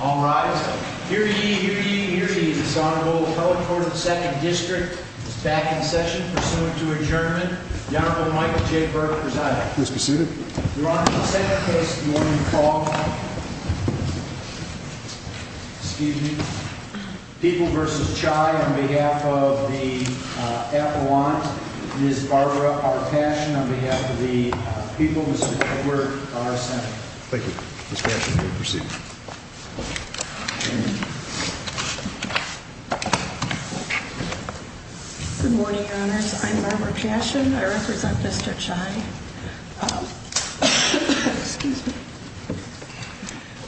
All rise. Here ye, here ye, here ye, this Honorable Appellate Court of the Second District is back in session, pursuant to adjournment. The Honorable Michael J. Burke presiding. Please be seated. Your Honor, in the second case, do you want me to call? Excuse me. People v. Chai, on behalf of the affluent, Ms. Barbara R. Paschen, on behalf of the people, Mr. Edward R. Sanford. Thank you. Ms. Paschen, you may proceed. Good morning, Your Honors. I'm Barbara Paschen. I represent Mr. Chai. Excuse me.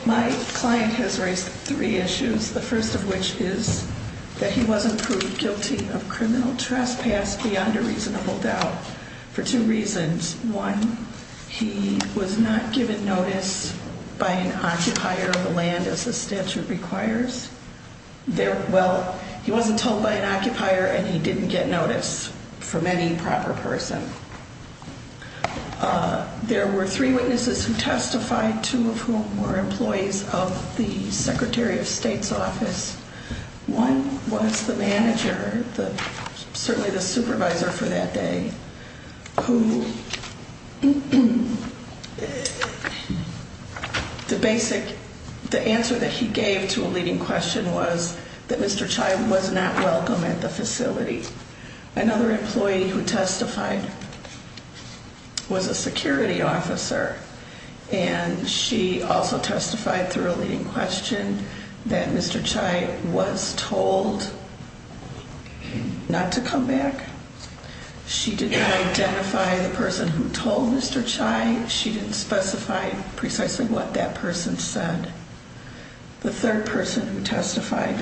My client has raised three issues, the first of which is that he wasn't proved guilty of criminal trespass beyond a reasonable doubt for two reasons. One, he was not given notice by an occupier of the land as the statute requires. Well, he wasn't told by an occupier and he didn't get notice from any proper person. There were three witnesses who testified, two of whom were employees of the Secretary of State's office. One was the manager, certainly the supervisor for that day, who the basic, the answer that he gave to a leading question was that Mr. Chai was not welcome at the facility. Another employee who testified was a security officer and she also testified through a leading question that Mr. Chai was told not to come back. She didn't identify the person who told Mr. Chai. She didn't specify precisely what that person said. The third person who testified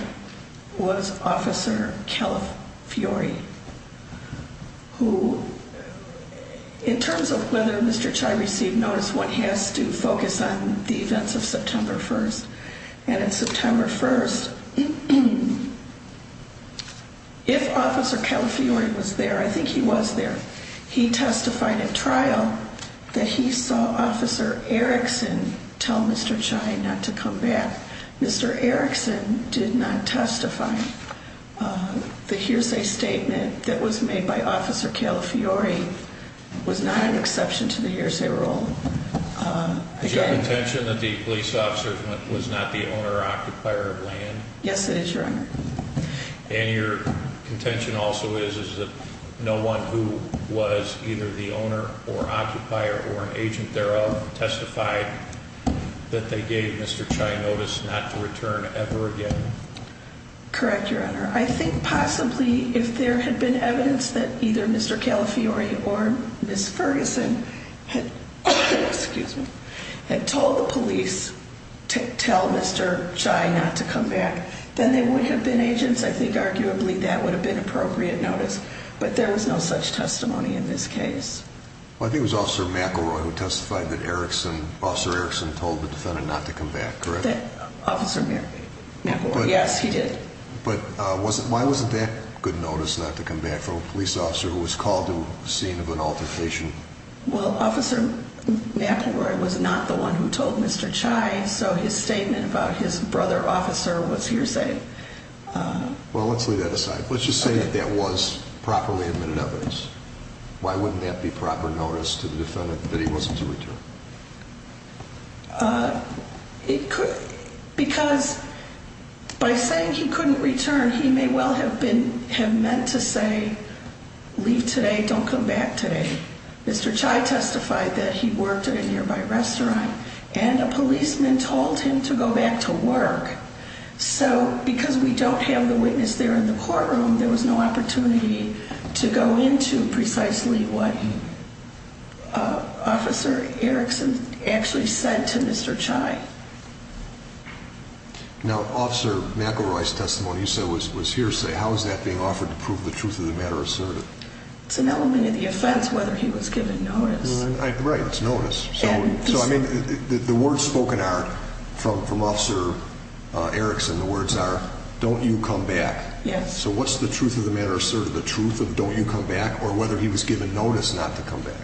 was Officer Kellef Fiori, who in terms of whether Mr. Chai received notice, one has to focus on the events of September 1st. If Officer Kellef Fiori was there, I think he was there, he testified at trial that he saw Officer Erickson tell Mr. Chai not to come back. Mr. Erickson did not testify. The hearsay statement that was made by Officer Kellef Fiori was not an exception to the hearsay rule. Is your contention that the police officer was not the owner or occupier of land? Yes, it is, Your Honor. And your contention also is that no one who was either the owner or occupier or an agent thereof testified that they gave Mr. Chai notice not to return ever again? Correct, Your Honor. I think possibly if there had been evidence that either Mr. Kellef Fiori or Ms. Ferguson had told the police to tell Mr. Chai not to come back, then they would have been agents. I think arguably that would have been appropriate notice, but there was no such testimony in this case. I think it was Officer McElroy who testified that Officer Erickson told the defendant not to come back, correct? Officer McElroy, yes, he did. But why wasn't that good notice not to come back from a police officer who was called to the scene of an altercation? Well, Officer McElroy was not the one who told Mr. Chai, so his statement about his brother officer was hearsay. Well, let's leave that aside. Let's just say that that was properly admitted evidence. Why wouldn't that be proper notice to the defendant that he wasn't to return? Because by saying he couldn't return, he may well have been have meant to say, leave today, don't come back today. Mr. Chai testified that he worked at a nearby restaurant and a policeman told him to go back to work. So because we don't have the witness there in the courtroom, there was no opportunity to go into precisely what Officer Erickson actually said to Mr. Chai. Now, Officer McElroy's testimony you said was hearsay. How is that being offered to prove the truth of the matter asserted? It's an element of the offense whether he was given notice. Right, it's notice. So, I mean, the words spoken are from Officer Erickson, the words are, don't you come back. Yes. So what's the truth of the matter asserted? The truth of don't you come back or whether he was given notice not to come back?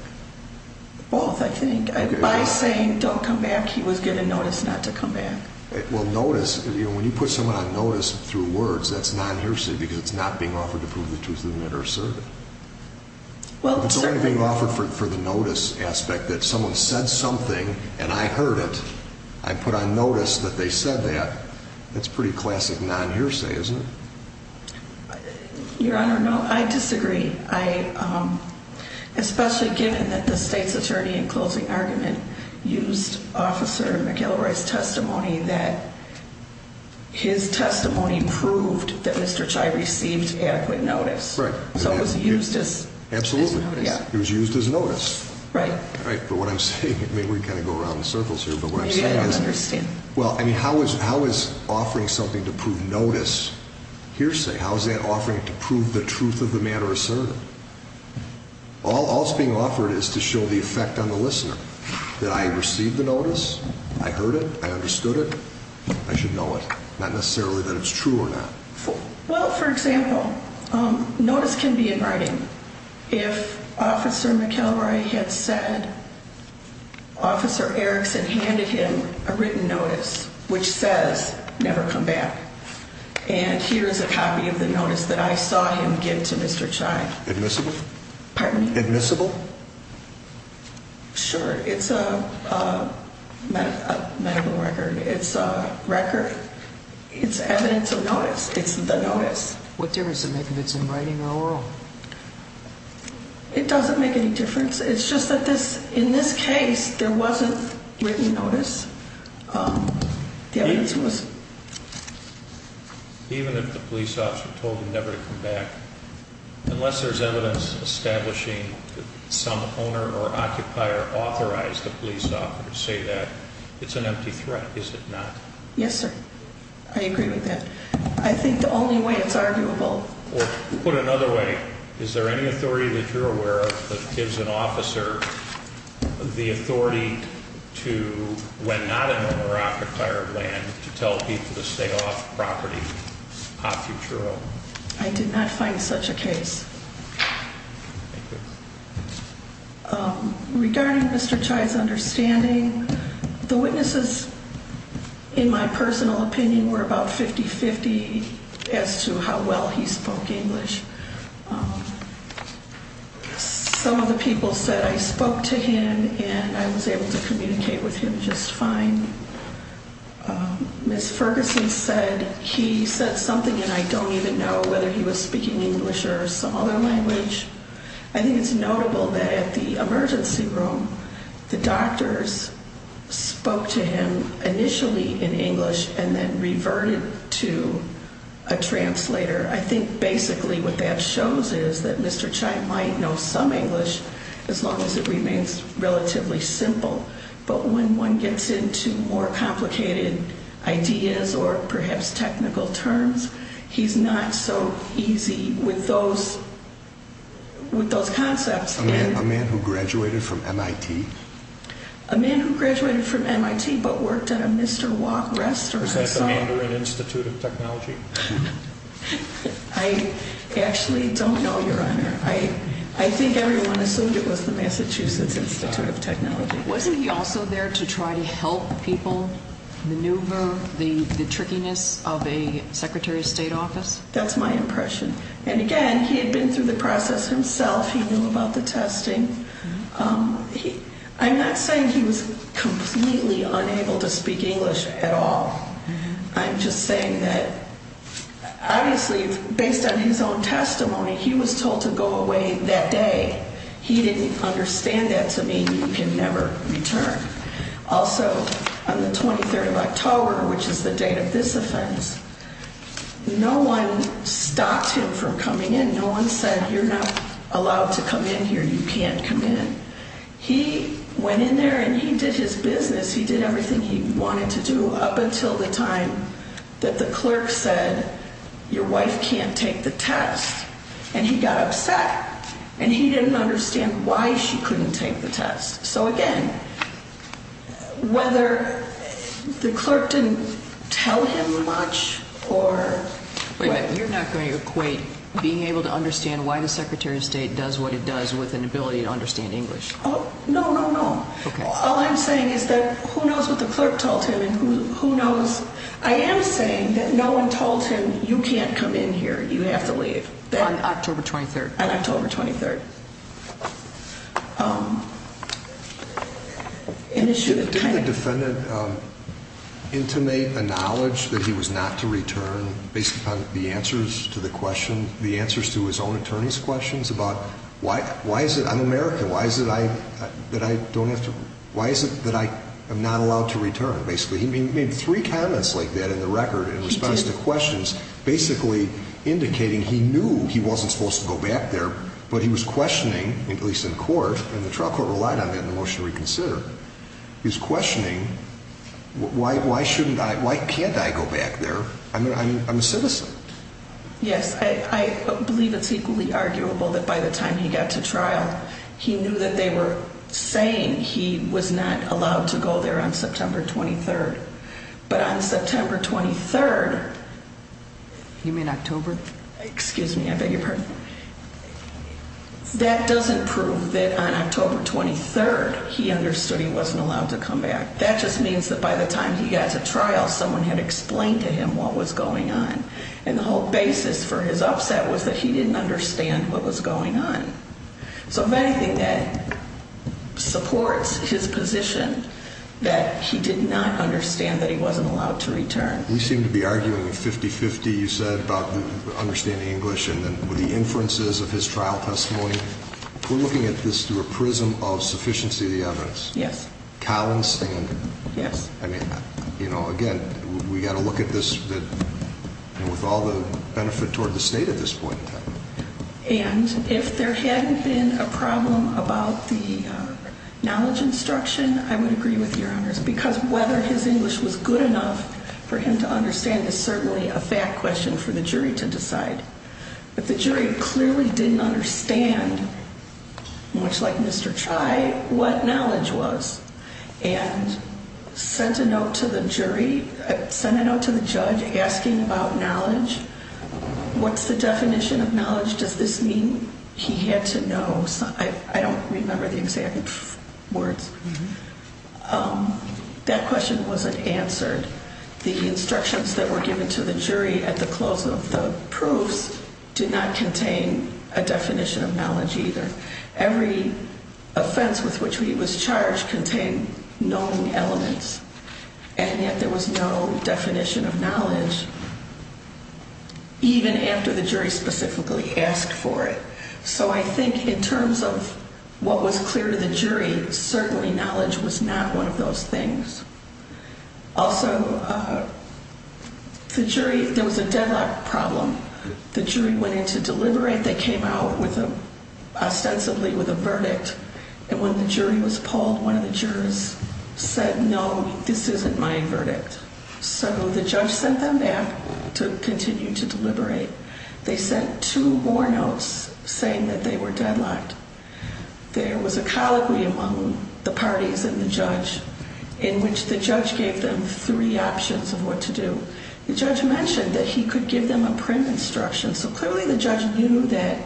Both, I think. By saying don't come back, he was given notice not to come back. Well, notice, when you put someone on notice through words, that's not hearsay because it's not being offered to prove the truth of the matter asserted. It's only being offered for the notice aspect that someone said something and I heard it. I put on notice that they said that. That's pretty classic non-hearsay, isn't it? Your Honor, no, I disagree. Especially given that the state's attorney in closing argument used Officer McElroy's testimony that his testimony proved that Mr. Chai received adequate notice. Right. So it was used as notice. Absolutely. It was used as notice. Right. Right, but what I'm saying, I mean, we kind of go around in circles here, but what I'm saying is. You didn't understand. Well, I mean, how is offering something to prove notice hearsay? How is that offering to prove the truth of the matter asserted? All that's being offered is to show the effect on the listener, that I received the notice, I heard it, I understood it, I should know it. Not necessarily that it's true or not. Well, for example, notice can be in writing. If Officer McElroy had said Officer Erickson handed him a written notice which says never come back. And here's a copy of the notice that I saw him give to Mr. Chai. Admissible? Pardon me? Admissible? Sure. It's a medical record. It's a record. It's evidence of notice. It's the notice. What difference does it make if it's in writing or oral? It doesn't make any difference. It's just that this, in this case, there wasn't written notice. The evidence was. Even if the police officer told him never to come back, unless there's evidence establishing some owner or occupier authorized the police officer to say that, it's an empty threat, is it not? Yes, sir. I agree with that. I think the only way it's arguable. Put another way, is there any authority that you're aware of that gives an officer the authority to, when not an owner or occupier of land, to tell people to stay off property? I did not find such a case. Thank you. Regarding Mr. Chai's understanding, the witnesses, in my personal opinion, were about 50-50 as to how well he spoke English. Some of the people said I spoke to him and I was able to communicate with him just fine. Ms. Ferguson said he said something and I don't even know whether he was speaking English or some other language. I think it's notable that at the emergency room, the doctors spoke to him initially in English and then reverted to a translator. I think basically what that shows is that Mr. Chai might know some English as long as it remains relatively simple. But when one gets into more complicated ideas or perhaps technical terms, he's not so easy with those concepts. A man who graduated from MIT? A man who graduated from MIT but worked at a Mr. Wok restaurant. Was that the owner of an institute of technology? I actually don't know, Your Honor. I think everyone assumed it was the Massachusetts Institute of Technology. Wasn't he also there to try to help people maneuver the trickiness of a Secretary of State office? That's my impression. And again, he had been through the process himself. He knew about the testing. I'm not saying he was completely unable to speak English at all. I'm just saying that, obviously, based on his own testimony, he was told to go away that day. He didn't understand that to me. You can never return. Also, on the 23rd of October, which is the date of this offense, no one stopped him from coming in. No one said, you're not allowed to come in here. You can't come in. He went in there and he did his business. He did everything he wanted to do up until the time that the clerk said, your wife can't take the test. And he got upset and he didn't understand why she couldn't take the test. So again, whether the clerk didn't tell him much or... You're not going to equate being able to understand why the Secretary of State does what it does with an ability to understand English. No, no, no. All I'm saying is that who knows what the clerk told him and who knows... I am saying that no one told him, you can't come in here. You have to leave. On October 23rd? On October 23rd. Didn't the defendant intimate a knowledge that he was not to return based upon the answers to the question, the answers to his own attorney's questions about why is it, I'm American, why is it that I don't have to... Why is it that I am not allowed to return, basically? He made three comments like that in the record in response to questions, basically indicating he knew he wasn't supposed to go back there, but he was questioning, at least in court, and the trial court relied on that in the motion to reconsider. He was questioning, why shouldn't I, why can't I go back there? I'm a citizen. Yes, I believe it's equally arguable that by the time he got to trial, he knew that they were saying he was not allowed to go there on September 23rd. But on September 23rd... You mean October? Excuse me, I beg your pardon. That doesn't prove that on October 23rd he understood he wasn't allowed to come back. That just means that by the time he got to trial, someone had explained to him what was going on. And the whole basis for his upset was that he didn't understand what was going on. So if anything, that supports his position that he did not understand that he wasn't allowed to return. You seem to be arguing 50-50, you said, about understanding English and the inferences of his trial testimony. We're looking at this through a prism of sufficiency of the evidence. Yes. Collins thing. Yes. I mean, you know, again, we've got to look at this with all the benefit toward the state at this point in time. And if there hadn't been a problem about the knowledge instruction, I would agree with Your Honors. Because whether his English was good enough for him to understand is certainly a fact question for the jury to decide. But the jury clearly didn't understand, much like Mr. Trey, what knowledge was. And sent a note to the jury, sent a note to the judge asking about knowledge. What's the definition of knowledge? Does this mean he had to know? I don't remember the exact words. That question wasn't answered. The instructions that were given to the jury at the close of the proofs did not contain a definition of knowledge either. Because every offense with which he was charged contained known elements. And yet there was no definition of knowledge. Even after the jury specifically asked for it. So I think in terms of what was clear to the jury, certainly knowledge was not one of those things. Also, the jury, there was a deadlock problem. The jury went in to deliberate. They came out ostensibly with a verdict. And when the jury was polled, one of the jurors said, no, this isn't my verdict. So the judge sent them back to continue to deliberate. They sent two more notes saying that they were deadlocked. There was a colloquy among the parties and the judge in which the judge gave them three options of what to do. The judge mentioned that he could give them a prim instruction. So clearly the judge knew that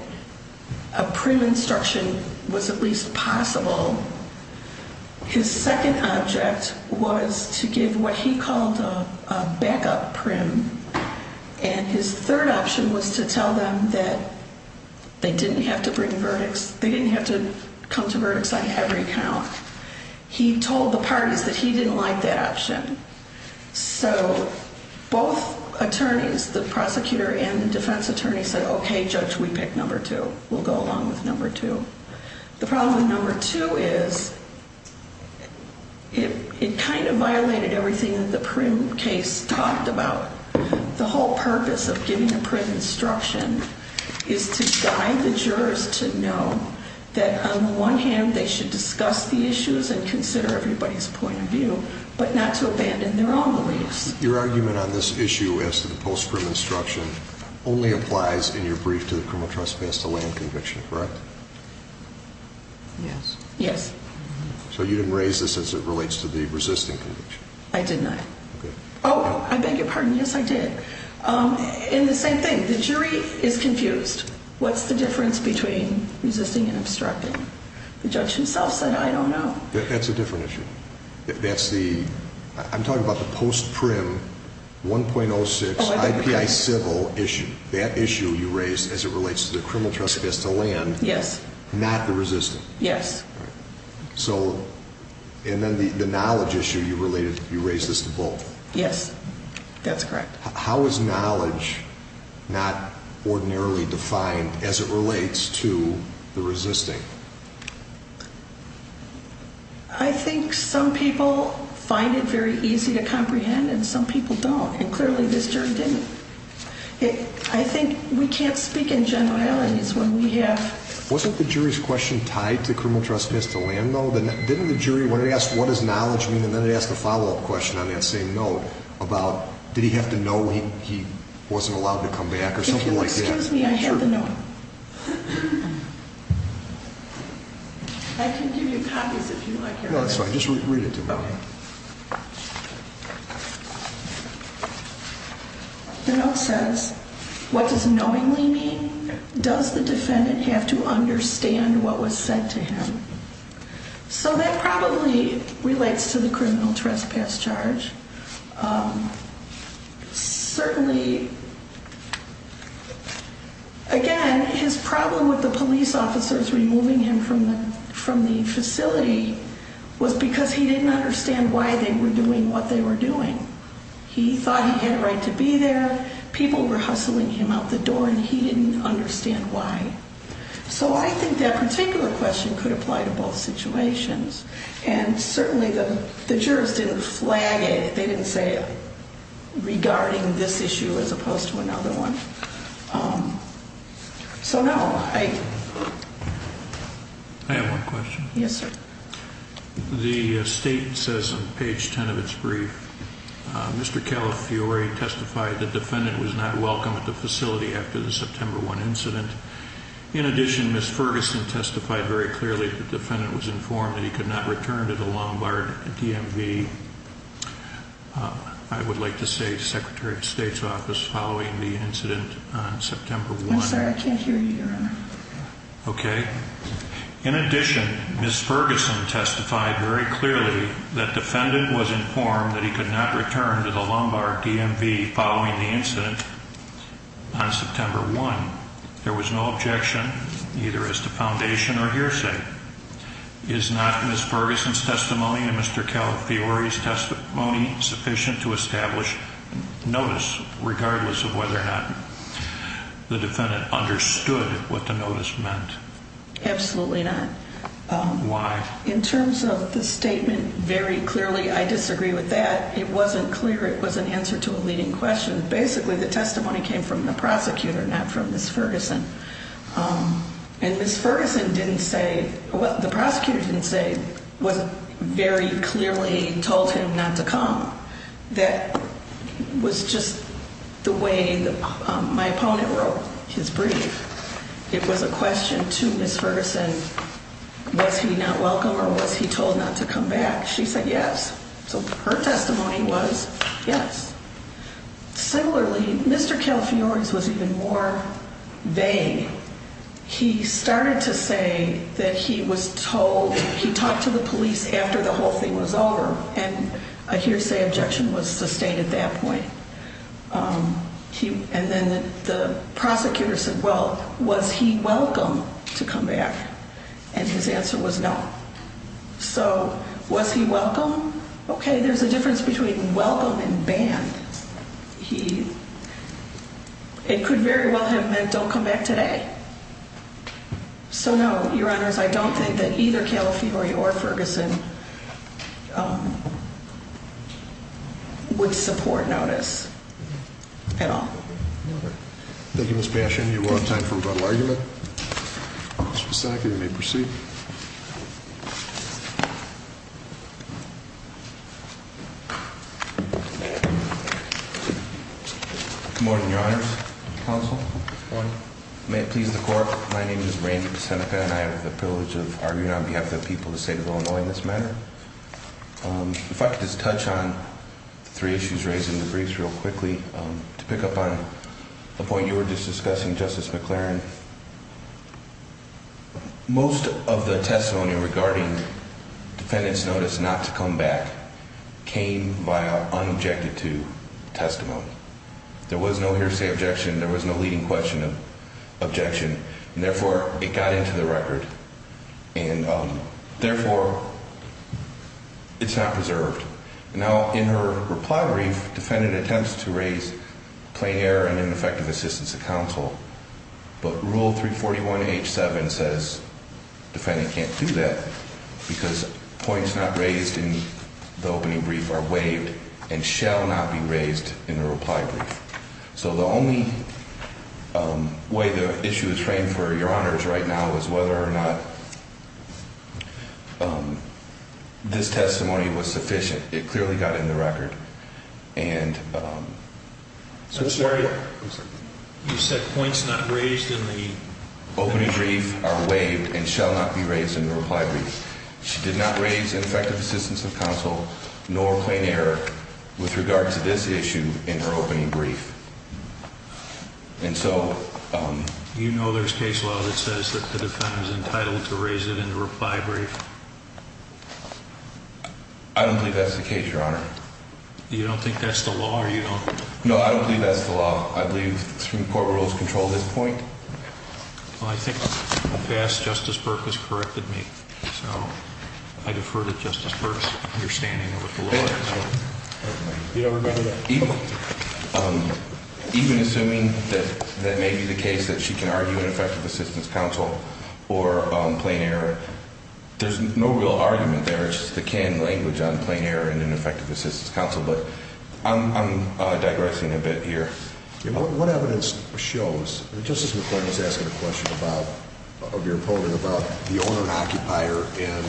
a prim instruction was at least possible. His second object was to give what he called a backup prim. And his third option was to tell them that they didn't have to bring verdicts. They didn't have to come to verdicts on every count. He told the parties that he didn't like that option. So both attorneys, the prosecutor and the defense attorney said, okay, judge, we pick number two. We'll go along with number two. The problem with number two is it kind of violated everything that the prim case talked about. The whole purpose of giving a prim instruction is to guide the jurors to know that on the one hand, they should discuss the issues and consider everybody's point of view, but not to abandon their own beliefs. Your argument on this issue as to the post prim instruction only applies in your brief to the criminal trespass to land conviction, correct? Yes. Yes. So you didn't raise this as it relates to the resisting conviction? I did not. Okay. Oh, I beg your pardon. Yes, I did. And the same thing, the jury is confused. What's the difference between resisting and obstructing? The judge himself said, I don't know. That's a different issue. That's the, I'm talking about the post prim 1.06 IPI civil issue. That issue you raised as it relates to the criminal trespass to land. Yes. Not the resisting. Yes. So, and then the knowledge issue you raised this to both. Yes, that's correct. How is knowledge not ordinarily defined as it relates to the resisting? I think some people find it very easy to comprehend and some people don't. And clearly this jury didn't. I think we can't speak in generalities when we have. Wasn't the jury's question tied to criminal trespass to land, though? Didn't the jury, when it asked, what does knowledge mean? And then it asked a follow-up question on that same note about, did he have to know he wasn't allowed to come back or something like that? If you'll excuse me, I have the note. I can give you copies if you like. No, that's fine. Just read it to me. The note says, what does knowingly mean? Does the defendant have to understand what was said to him? So that probably relates to the criminal trespass charge. Certainly, again, his problem with the police officers removing him from the facility was because he didn't understand why they were doing what they were doing. He thought he had a right to be there. People were hustling him out the door, and he didn't understand why. So I think that particular question could apply to both situations. And certainly the jurors didn't flag it. They didn't say it regarding this issue as opposed to another one. So, no. I have one question. Yes, sir. The state says on page 10 of its brief, Mr. Calafiore testified the defendant was not welcome at the facility after the September 1 incident. In addition, Ms. Ferguson testified very clearly the defendant was informed that he could not return to the Lombard DMV. I would like to say Secretary of State's office following the incident on September 1. I'm sorry, I can't hear you, Your Honor. Okay. In addition, Ms. Ferguson testified very clearly that defendant was informed that he could not return to the Lombard DMV following the incident on September 1. There was no objection either as to foundation or hearsay. Is not Ms. Ferguson's testimony and Mr. Calafiore's testimony sufficient to establish notice, regardless of whether or not the defendant understood what the notice meant? Absolutely not. Why? In terms of the statement, very clearly I disagree with that. It wasn't clear it was an answer to a leading question. Basically, the testimony came from the prosecutor, not from Ms. Ferguson. And Ms. Ferguson didn't say, well, the prosecutor didn't say, wasn't very clearly told him not to come. That was just the way my opponent wrote his brief. It was a question to Ms. Ferguson, was he not welcome or was he told not to come back? She said yes. So her testimony was yes. Similarly, Mr. Calafiore's was even more vague. He started to say that he was told, he talked to the police after the whole thing was over and a hearsay objection was sustained at that point. And then the prosecutor said, well, was he welcome to come back? And his answer was no. So was he welcome? Okay, there's a difference between welcome and banned. He, it could very well have meant don't come back today. So no, Your Honors, I don't think that either Calafiore or Ferguson would support notice at all. Thank you, Ms. Bastian. You will have time for a brief argument. Mr. Psaki, you may proceed. Good morning, Your Honors. Counsel. Good morning. May it please the Court. My name is Randy Peseneca and I have the privilege of arguing on behalf of the people of the state of Illinois in this matter. If I could just touch on three issues raised in the briefs real quickly. To pick up on the point you were just discussing, Justice McLaren, most of the testimony regarding defendant's notice not to come back came via unobjected to testimony. There was no hearsay objection. There was no leading question objection. And therefore, it got into the record. And therefore, it's not preserved. Now, in her reply brief, defendant attempts to raise plain error and ineffective assistance to counsel, but Rule 341H7 says defendant can't do that because points not raised in the opening brief are waived and shall not be raised in the reply brief. So the only way the issue is framed for Your Honors right now is whether or not this testimony was sufficient. It clearly got in the record. And so that's why you said points not raised in the opening brief are waived and shall not be raised in the reply brief. She did not raise ineffective assistance of counsel nor plain error with regard to this issue in her opening brief. And so... You know there's case law that says that the defendant is entitled to raise it in the reply brief. I don't believe that's the case, Your Honor. You don't think that's the law or you don't... No, I don't believe that's the law. I believe Supreme Court rules control this point. Well, I think in the past Justice Burke has corrected me. So I defer to Justice Burke's understanding of what the law is. You don't remember that? Even assuming that that may be the case, that she can argue ineffective assistance counsel or plain error, there's no real argument there. It's just the canon language on plain error and ineffective assistance counsel. But I'm digressing a bit here. What evidence shows? Justice McClain was asking a question about, of your opening, about the owner-occupier. And,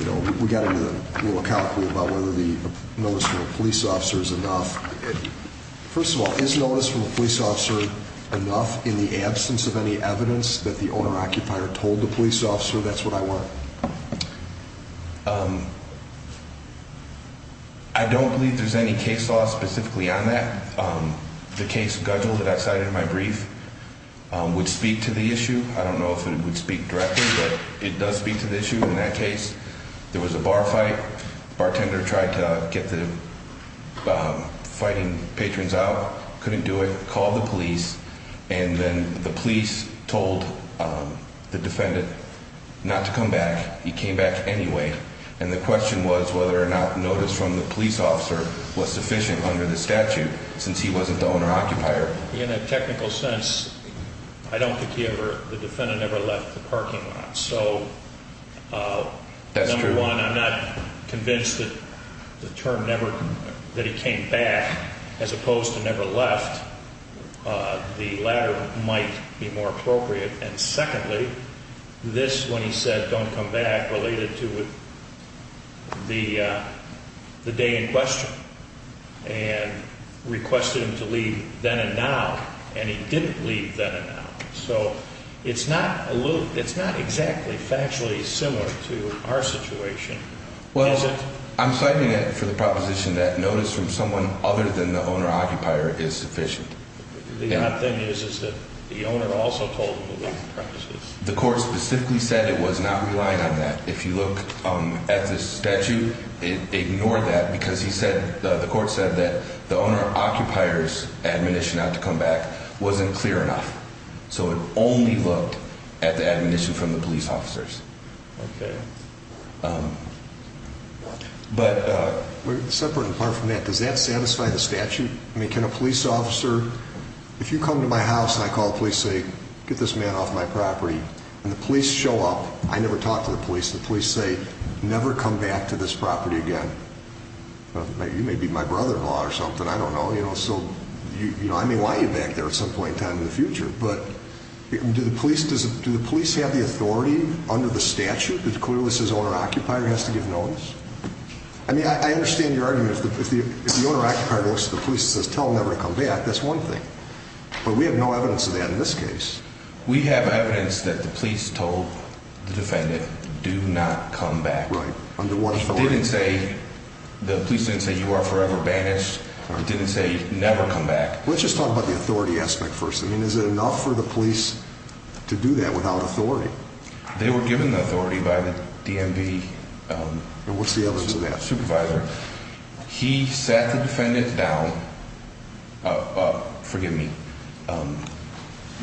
you know, we got into a little calcul about whether the notice from a police officer is enough. First of all, is notice from a police officer enough in the absence of any evidence that the owner-occupier told the police officer? That's what I want. I don't believe there's any case law specifically on that. The case schedule that I cited in my brief would speak to the issue. I don't know if it would speak directly, but it does speak to the issue in that case. There was a bar fight. Bartender tried to get the fighting patrons out, couldn't do it, called the police. And then the police told the defendant not to come back. He came back anyway. And the question was whether or not notice from the police officer was sufficient under the statute since he wasn't the owner-occupier. In a technical sense, I don't think the defendant ever left the parking lot. So, number one, I'm not convinced that the term never, that he came back as opposed to never left. The latter might be more appropriate. And secondly, this, when he said don't come back, related to the day in question and requested him to leave then and now. And he didn't leave then and now. So it's not exactly factually similar to our situation. Well, I'm citing it for the proposition that notice from someone other than the owner-occupier is sufficient. The odd thing is that the owner also told him about the premises. The court specifically said it was not relying on that. If you look at the statute, it ignored that because the court said that the owner-occupier's admonition not to come back wasn't clear enough. So it only looked at the admonition from the police officers. Okay. But... Separate and apart from that, does that satisfy the statute? I mean, can a police officer, if you come to my house and I call the police and say, get this man off my property, and the police show up, I never talk to the police, the police say, never come back to this property again. You may be my brother-in-law or something. I don't know. So I may want you back there at some point in time in the future. But do the police have the authority under the statute that clearly says owner-occupier has to give notice? I mean, I understand your argument. If the owner-occupier goes to the police and says, tell him never to come back, that's one thing. But we have no evidence of that in this case. We have evidence that the police told the defendant, do not come back. Right. Under what authority? They didn't say, the police didn't say, you are forever banished. They didn't say, never come back. Let's just talk about the authority aspect first. I mean, is it enough for the police to do that without authority? They were given the authority by the DMV. And what's the evidence of that? Supervisor. He sat the defendant down. Forgive me.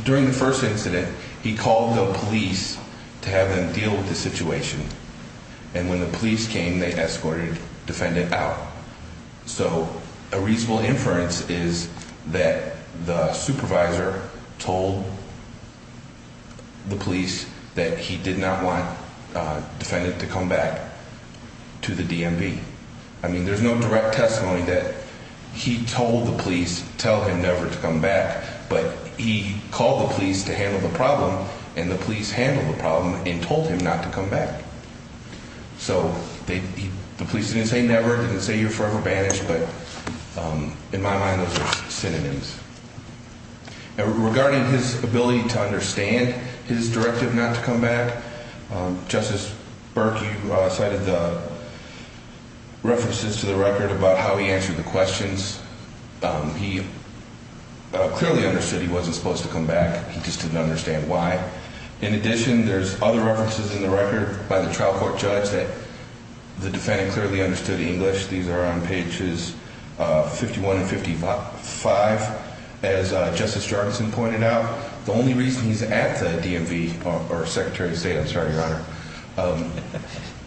During the first incident, he called the police to have them deal with the situation. And when the police came, they escorted the defendant out. So a reasonable inference is that the supervisor told the police that he did not want the defendant to come back to the DMV. I mean, there's no direct testimony that he told the police, tell him never to come back. But he called the police to handle the problem, and the police handled the problem and told him not to come back. So the police didn't say never, didn't say you're forever banished. But in my mind, those are synonyms. Regarding his ability to understand his directive not to come back, Justice Burke, you cited the references to the record about how he answered the questions. He clearly understood he wasn't supposed to come back. He just didn't understand why. In addition, there's other references in the record by the trial court judge that the defendant clearly understood English. These are on pages 51 and 55. As Justice Jorgensen pointed out, the only reason he's at the DMV, or Secretary of State, I'm sorry, Your Honor,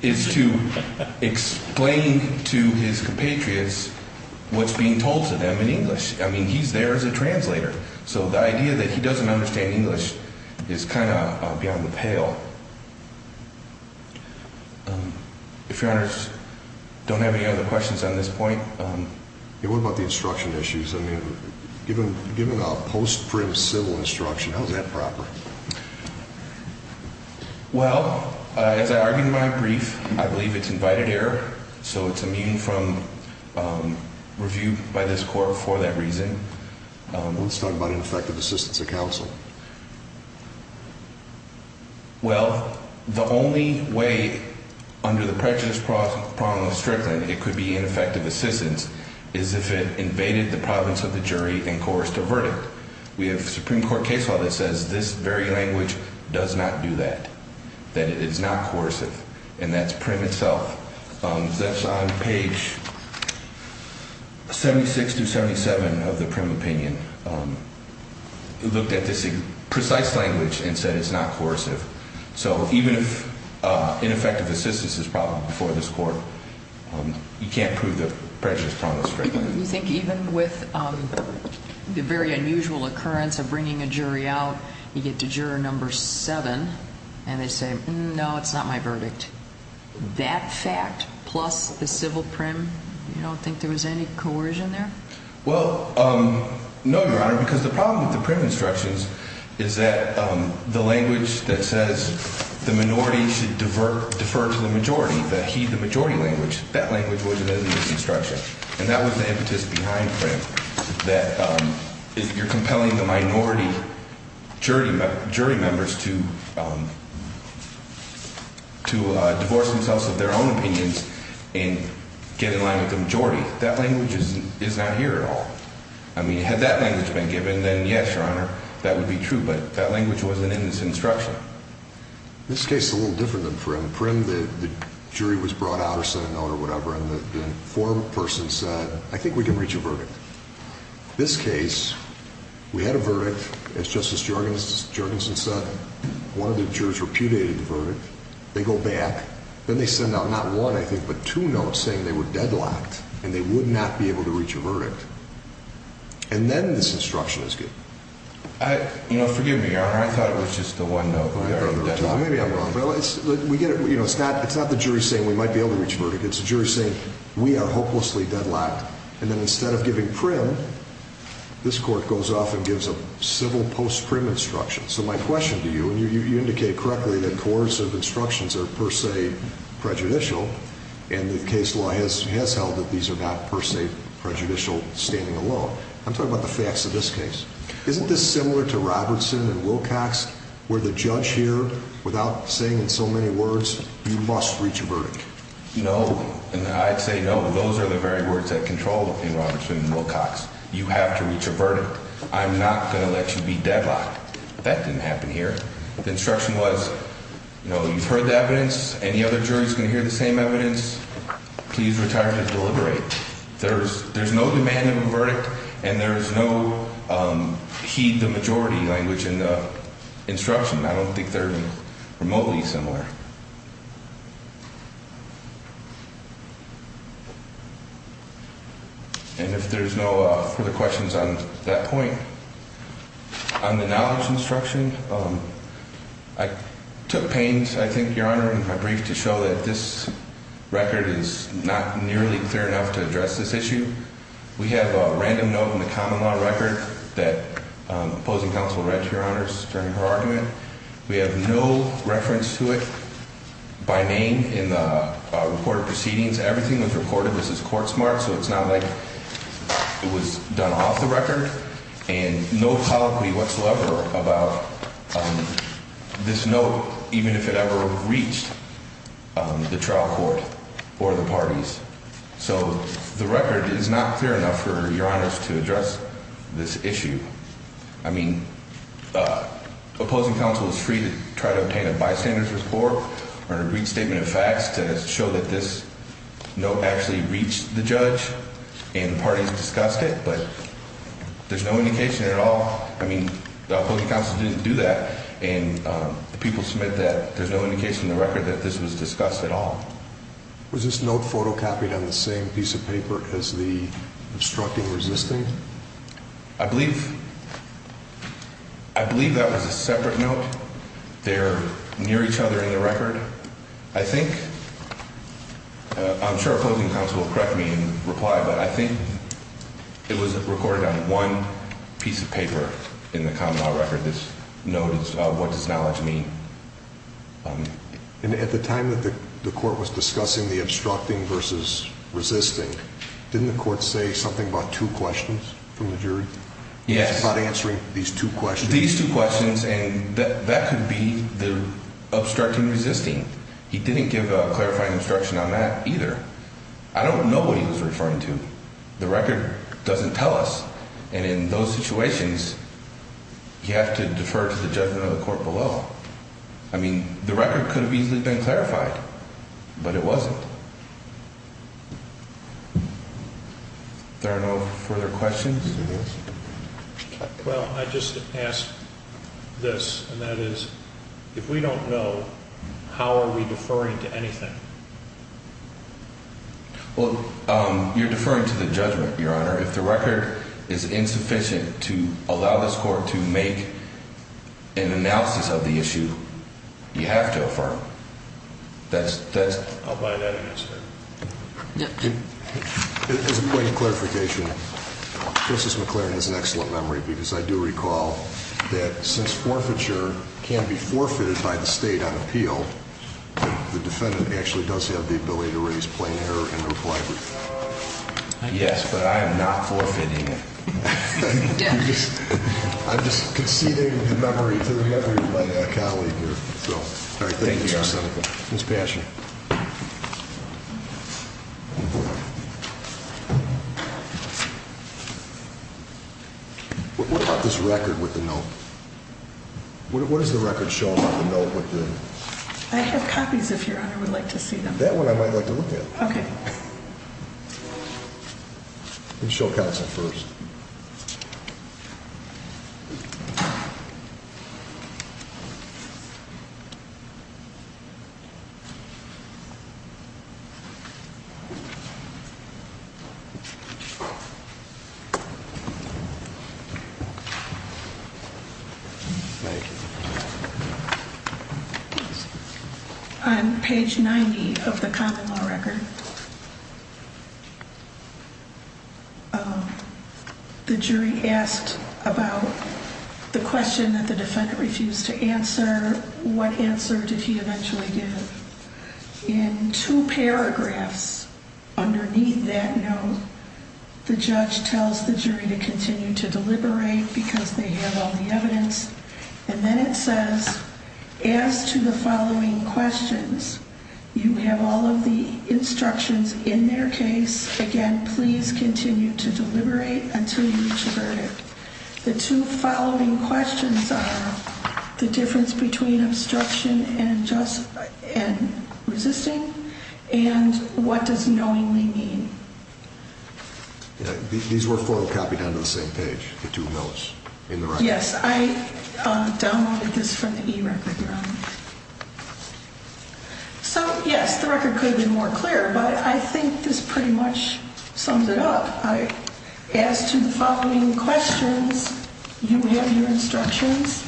is to explain to his compatriots what's being told to them in English. I mean, he's there as a translator. So the idea that he doesn't understand English is kind of beyond the pale. If Your Honors don't have any other questions on this point. What about the instruction issues? I mean, given a post-prim civil instruction, how is that proper? Well, as I argued in my brief, I believe it's invited error. So it's immune from review by this court for that reason. Let's talk about ineffective assistance of counsel. Well, the only way under the prejudice problem of Strickland it could be ineffective assistance is if it invaded the province of the jury and coerced a verdict. We have a Supreme Court case law that says this very language does not do that, that it is not coercive, and that's prim itself. That's on page 76 through 77 of the prim opinion. It looked at this precise language and said it's not coercive. So even if ineffective assistance is brought before this court, you can't prove the prejudice problem of Strickland. You think even with the very unusual occurrence of bringing a jury out, you get to juror number seven, and they say, no, it's not my verdict. That fact plus the civil prim, you don't think there was any coercion there? Well, no, Your Honor, because the problem with the prim instructions is that the language that says the minority should defer to the majority, the he, the majority language, that language wasn't in this instruction. And that was the impetus behind prim, that you're compelling the minority jury members to divorce themselves of their own opinions and get in line with the majority. That language is not here at all. I mean, had that language been given, then, yes, Your Honor, that would be true. But that language wasn't in this instruction. This case is a little different than prim. Prim, the jury was brought out or sent a note or whatever, and the former person said, I think we can reach a verdict. This case, we had a verdict. As Justice Jorgensen said, one of the jurors repudiated the verdict. They go back. Then they send out not one, I think, but two notes saying they were deadlocked and they would not be able to reach a verdict. And then this instruction is given. You know, forgive me, Your Honor. I thought it was just the one note. Maybe I'm wrong. It's not the jury saying we might be able to reach a verdict. It's the jury saying we are hopelessly deadlocked. And then instead of giving prim, this court goes off and gives a civil post-prim instruction. So my question to you, and you indicated correctly that coercive instructions are per se prejudicial, and the case law has held that these are not per se prejudicial standing alone. I'm talking about the facts of this case. Isn't this similar to Robertson and Wilcox where the judge here, without saying so many words, you must reach a verdict? No. And I'd say no. Those are the very words that control in Robertson and Wilcox. You have to reach a verdict. I'm not going to let you be deadlocked. That didn't happen here. The instruction was, you know, you've heard the evidence. Any other jurors going to hear the same evidence? Please retire to deliberate. There's no demand of a verdict, and there's no heed the majority language in the instruction. I don't think they're remotely similar. And if there's no further questions on that point, on the knowledge instruction, I took pains, I think, Your Honor, in my brief, to show that this record is not nearly clear enough to address this issue. We have a random note in the common law record that opposing counsel read to Your Honor during her argument. We have no reference to it by name in the recorded proceedings. Everything was recorded. This is court smart, so it's not like it was done off the record. And no colloquy whatsoever about this note, even if it ever reached the trial court or the parties. So the record is not clear enough for Your Honor to address this issue. I mean, opposing counsel is free to try to obtain a bystander's report or a brief statement of facts to show that this note actually reached the judge. And the parties discussed it, but there's no indication at all. I mean, the opposing counsel didn't do that, and the people submit that there's no indication in the record that this was discussed at all. Was this note photocopied on the same piece of paper as the obstructing resisting? I believe that was a separate note. They're near each other in the record. I think I'm sure opposing counsel will correct me and reply, but I think it was recorded on one piece of paper in the common law record. This note is what does knowledge mean? And at the time that the court was discussing the obstructing versus resisting, didn't the court say something about two questions from the jury? Yes. About answering these two questions. These two questions, and that could be the obstructing resisting. He didn't give a clarifying instruction on that either. I don't know what he was referring to. The record doesn't tell us. And in those situations, you have to defer to the judgment of the court below. I mean, the record could have easily been clarified, but it wasn't. There are no further questions? Well, I just asked this, and that is, if we don't know, how are we deferring to anything? Well, you're deferring to the judgment, Your Honor. If the record is insufficient to allow this court to make an analysis of the issue, you have to affirm. I'll buy that answer. As a point of clarification, Justice McClaren has an excellent memory, because I do recall that since forfeiture can be forfeited by the state on appeal, the defendant actually does have the ability to raise plain error in a reply brief. Yes, but I am not forfeiting it. I'm just conceding the memory to my colleague here. Thank you, Your Honor. Ms. Passion. What about this record with the note? What does the record show about the note with the... I have copies, if Your Honor would like to see them. That one I might like to look at. Okay. We'll show counsel first. Thank you. On page 90 of the common law record, the jury asked about the question that the defendant refused to answer. What answer did he eventually give? In two paragraphs underneath that note, the judge tells the jury to continue to deliberate because they have all the evidence. And then it says, as to the following questions, you have all of the instructions in their case. Again, please continue to deliberate until you reach a verdict. The two following questions are the difference between obstruction and resisting, and what does knowingly mean? These were photocopied onto the same page, the two notes in the record. Yes, I downloaded this from the e-record, Your Honor. So, yes, the record could have been more clear, but I think this pretty much sums it up. As to the following questions, you have your instructions,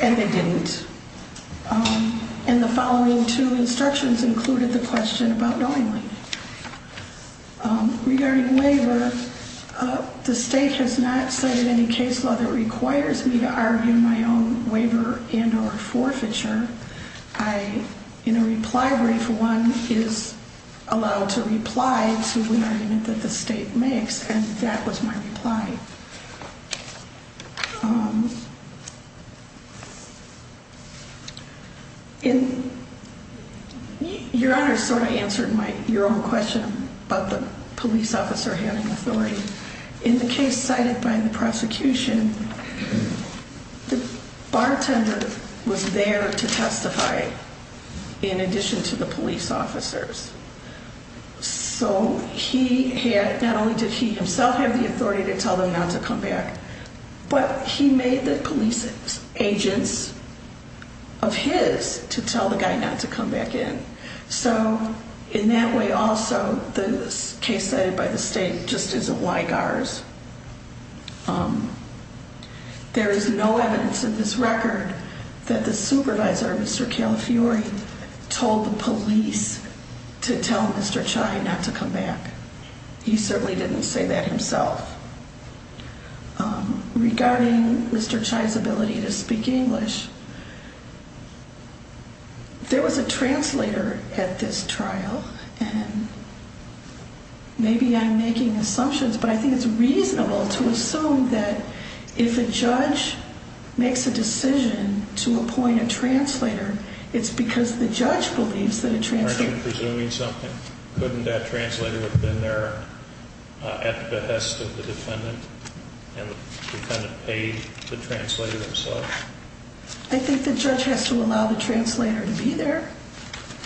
and they didn't. And the following two instructions included the question about knowingly. Regarding waiver, the state has not cited any case law that requires me to argue my own waiver and or forfeiture. In a reply brief, one is allowed to reply to an argument that the state makes, and that was my reply. Your Honor, so I answered your own question about the police officer having authority. In the case cited by the prosecution, the bartender was there to testify in addition to the police officers. So not only did he himself have the authority to tell them not to come back, but he made the police agents of his to tell the guy not to come back in. So in that way also, the case cited by the state just isn't like ours. There is no evidence in this record that the supervisor, Mr. Calafiore, told the police to tell Mr. Chai not to come back. He certainly didn't say that himself. Regarding Mr. Chai's ability to speak English, there was a translator at this trial. And maybe I'm making assumptions, but I think it's reasonable to assume that if a judge makes a decision to appoint a translator, it's because the judge believes that a translator... And the defendant paid the translator himself. I think the judge has to allow the translator to be there.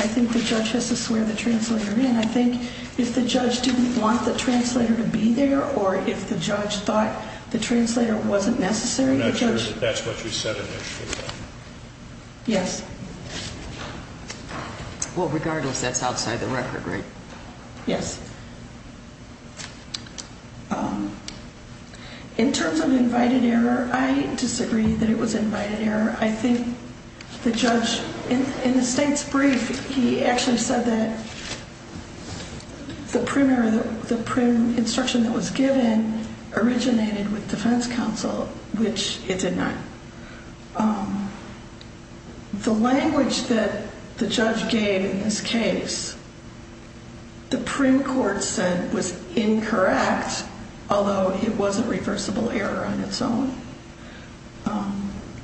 I think the judge has to swear the translator in. I think if the judge didn't want the translator to be there or if the judge thought the translator wasn't necessary, the judge... I'm not sure that that's what you said in there, Your Honor. Yes. Well, regardless, that's outside the record, right? Yes. In terms of invited error, I disagree that it was invited error. I think the judge... In the state's brief, he actually said that the prim instruction that was given originated with defense counsel, which it did not. The language that the judge gave in this case, the prim court said was incorrect, although it was a reversible error on its own.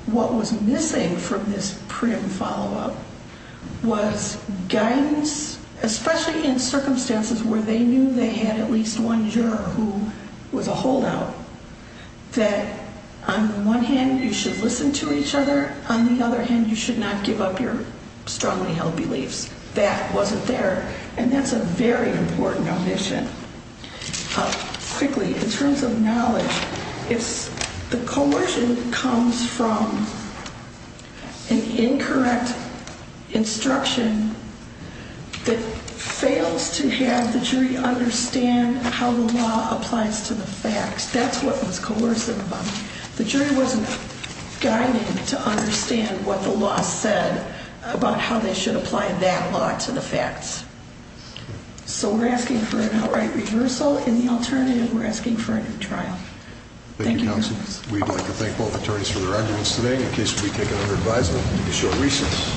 What was missing from this prim follow-up was guidance, especially in circumstances where they knew they had at least one juror who was a holdout, that on the one hand, you should listen to each other. On the other hand, you should not give up your strongly held beliefs. That wasn't there, and that's a very important omission. Quickly, in terms of knowledge, the coercion comes from an incorrect instruction that fails to have the jury understand how the law applies to the facts. That's what was coercive about it. The jury wasn't guided to understand what the law said about how they should apply that law to the facts. So we're asking for an outright reversal. In the alternative, we're asking for a new trial. Thank you, counsel. We'd like to thank both attorneys for their arguments today. The case will be taken under advisement in a short recess.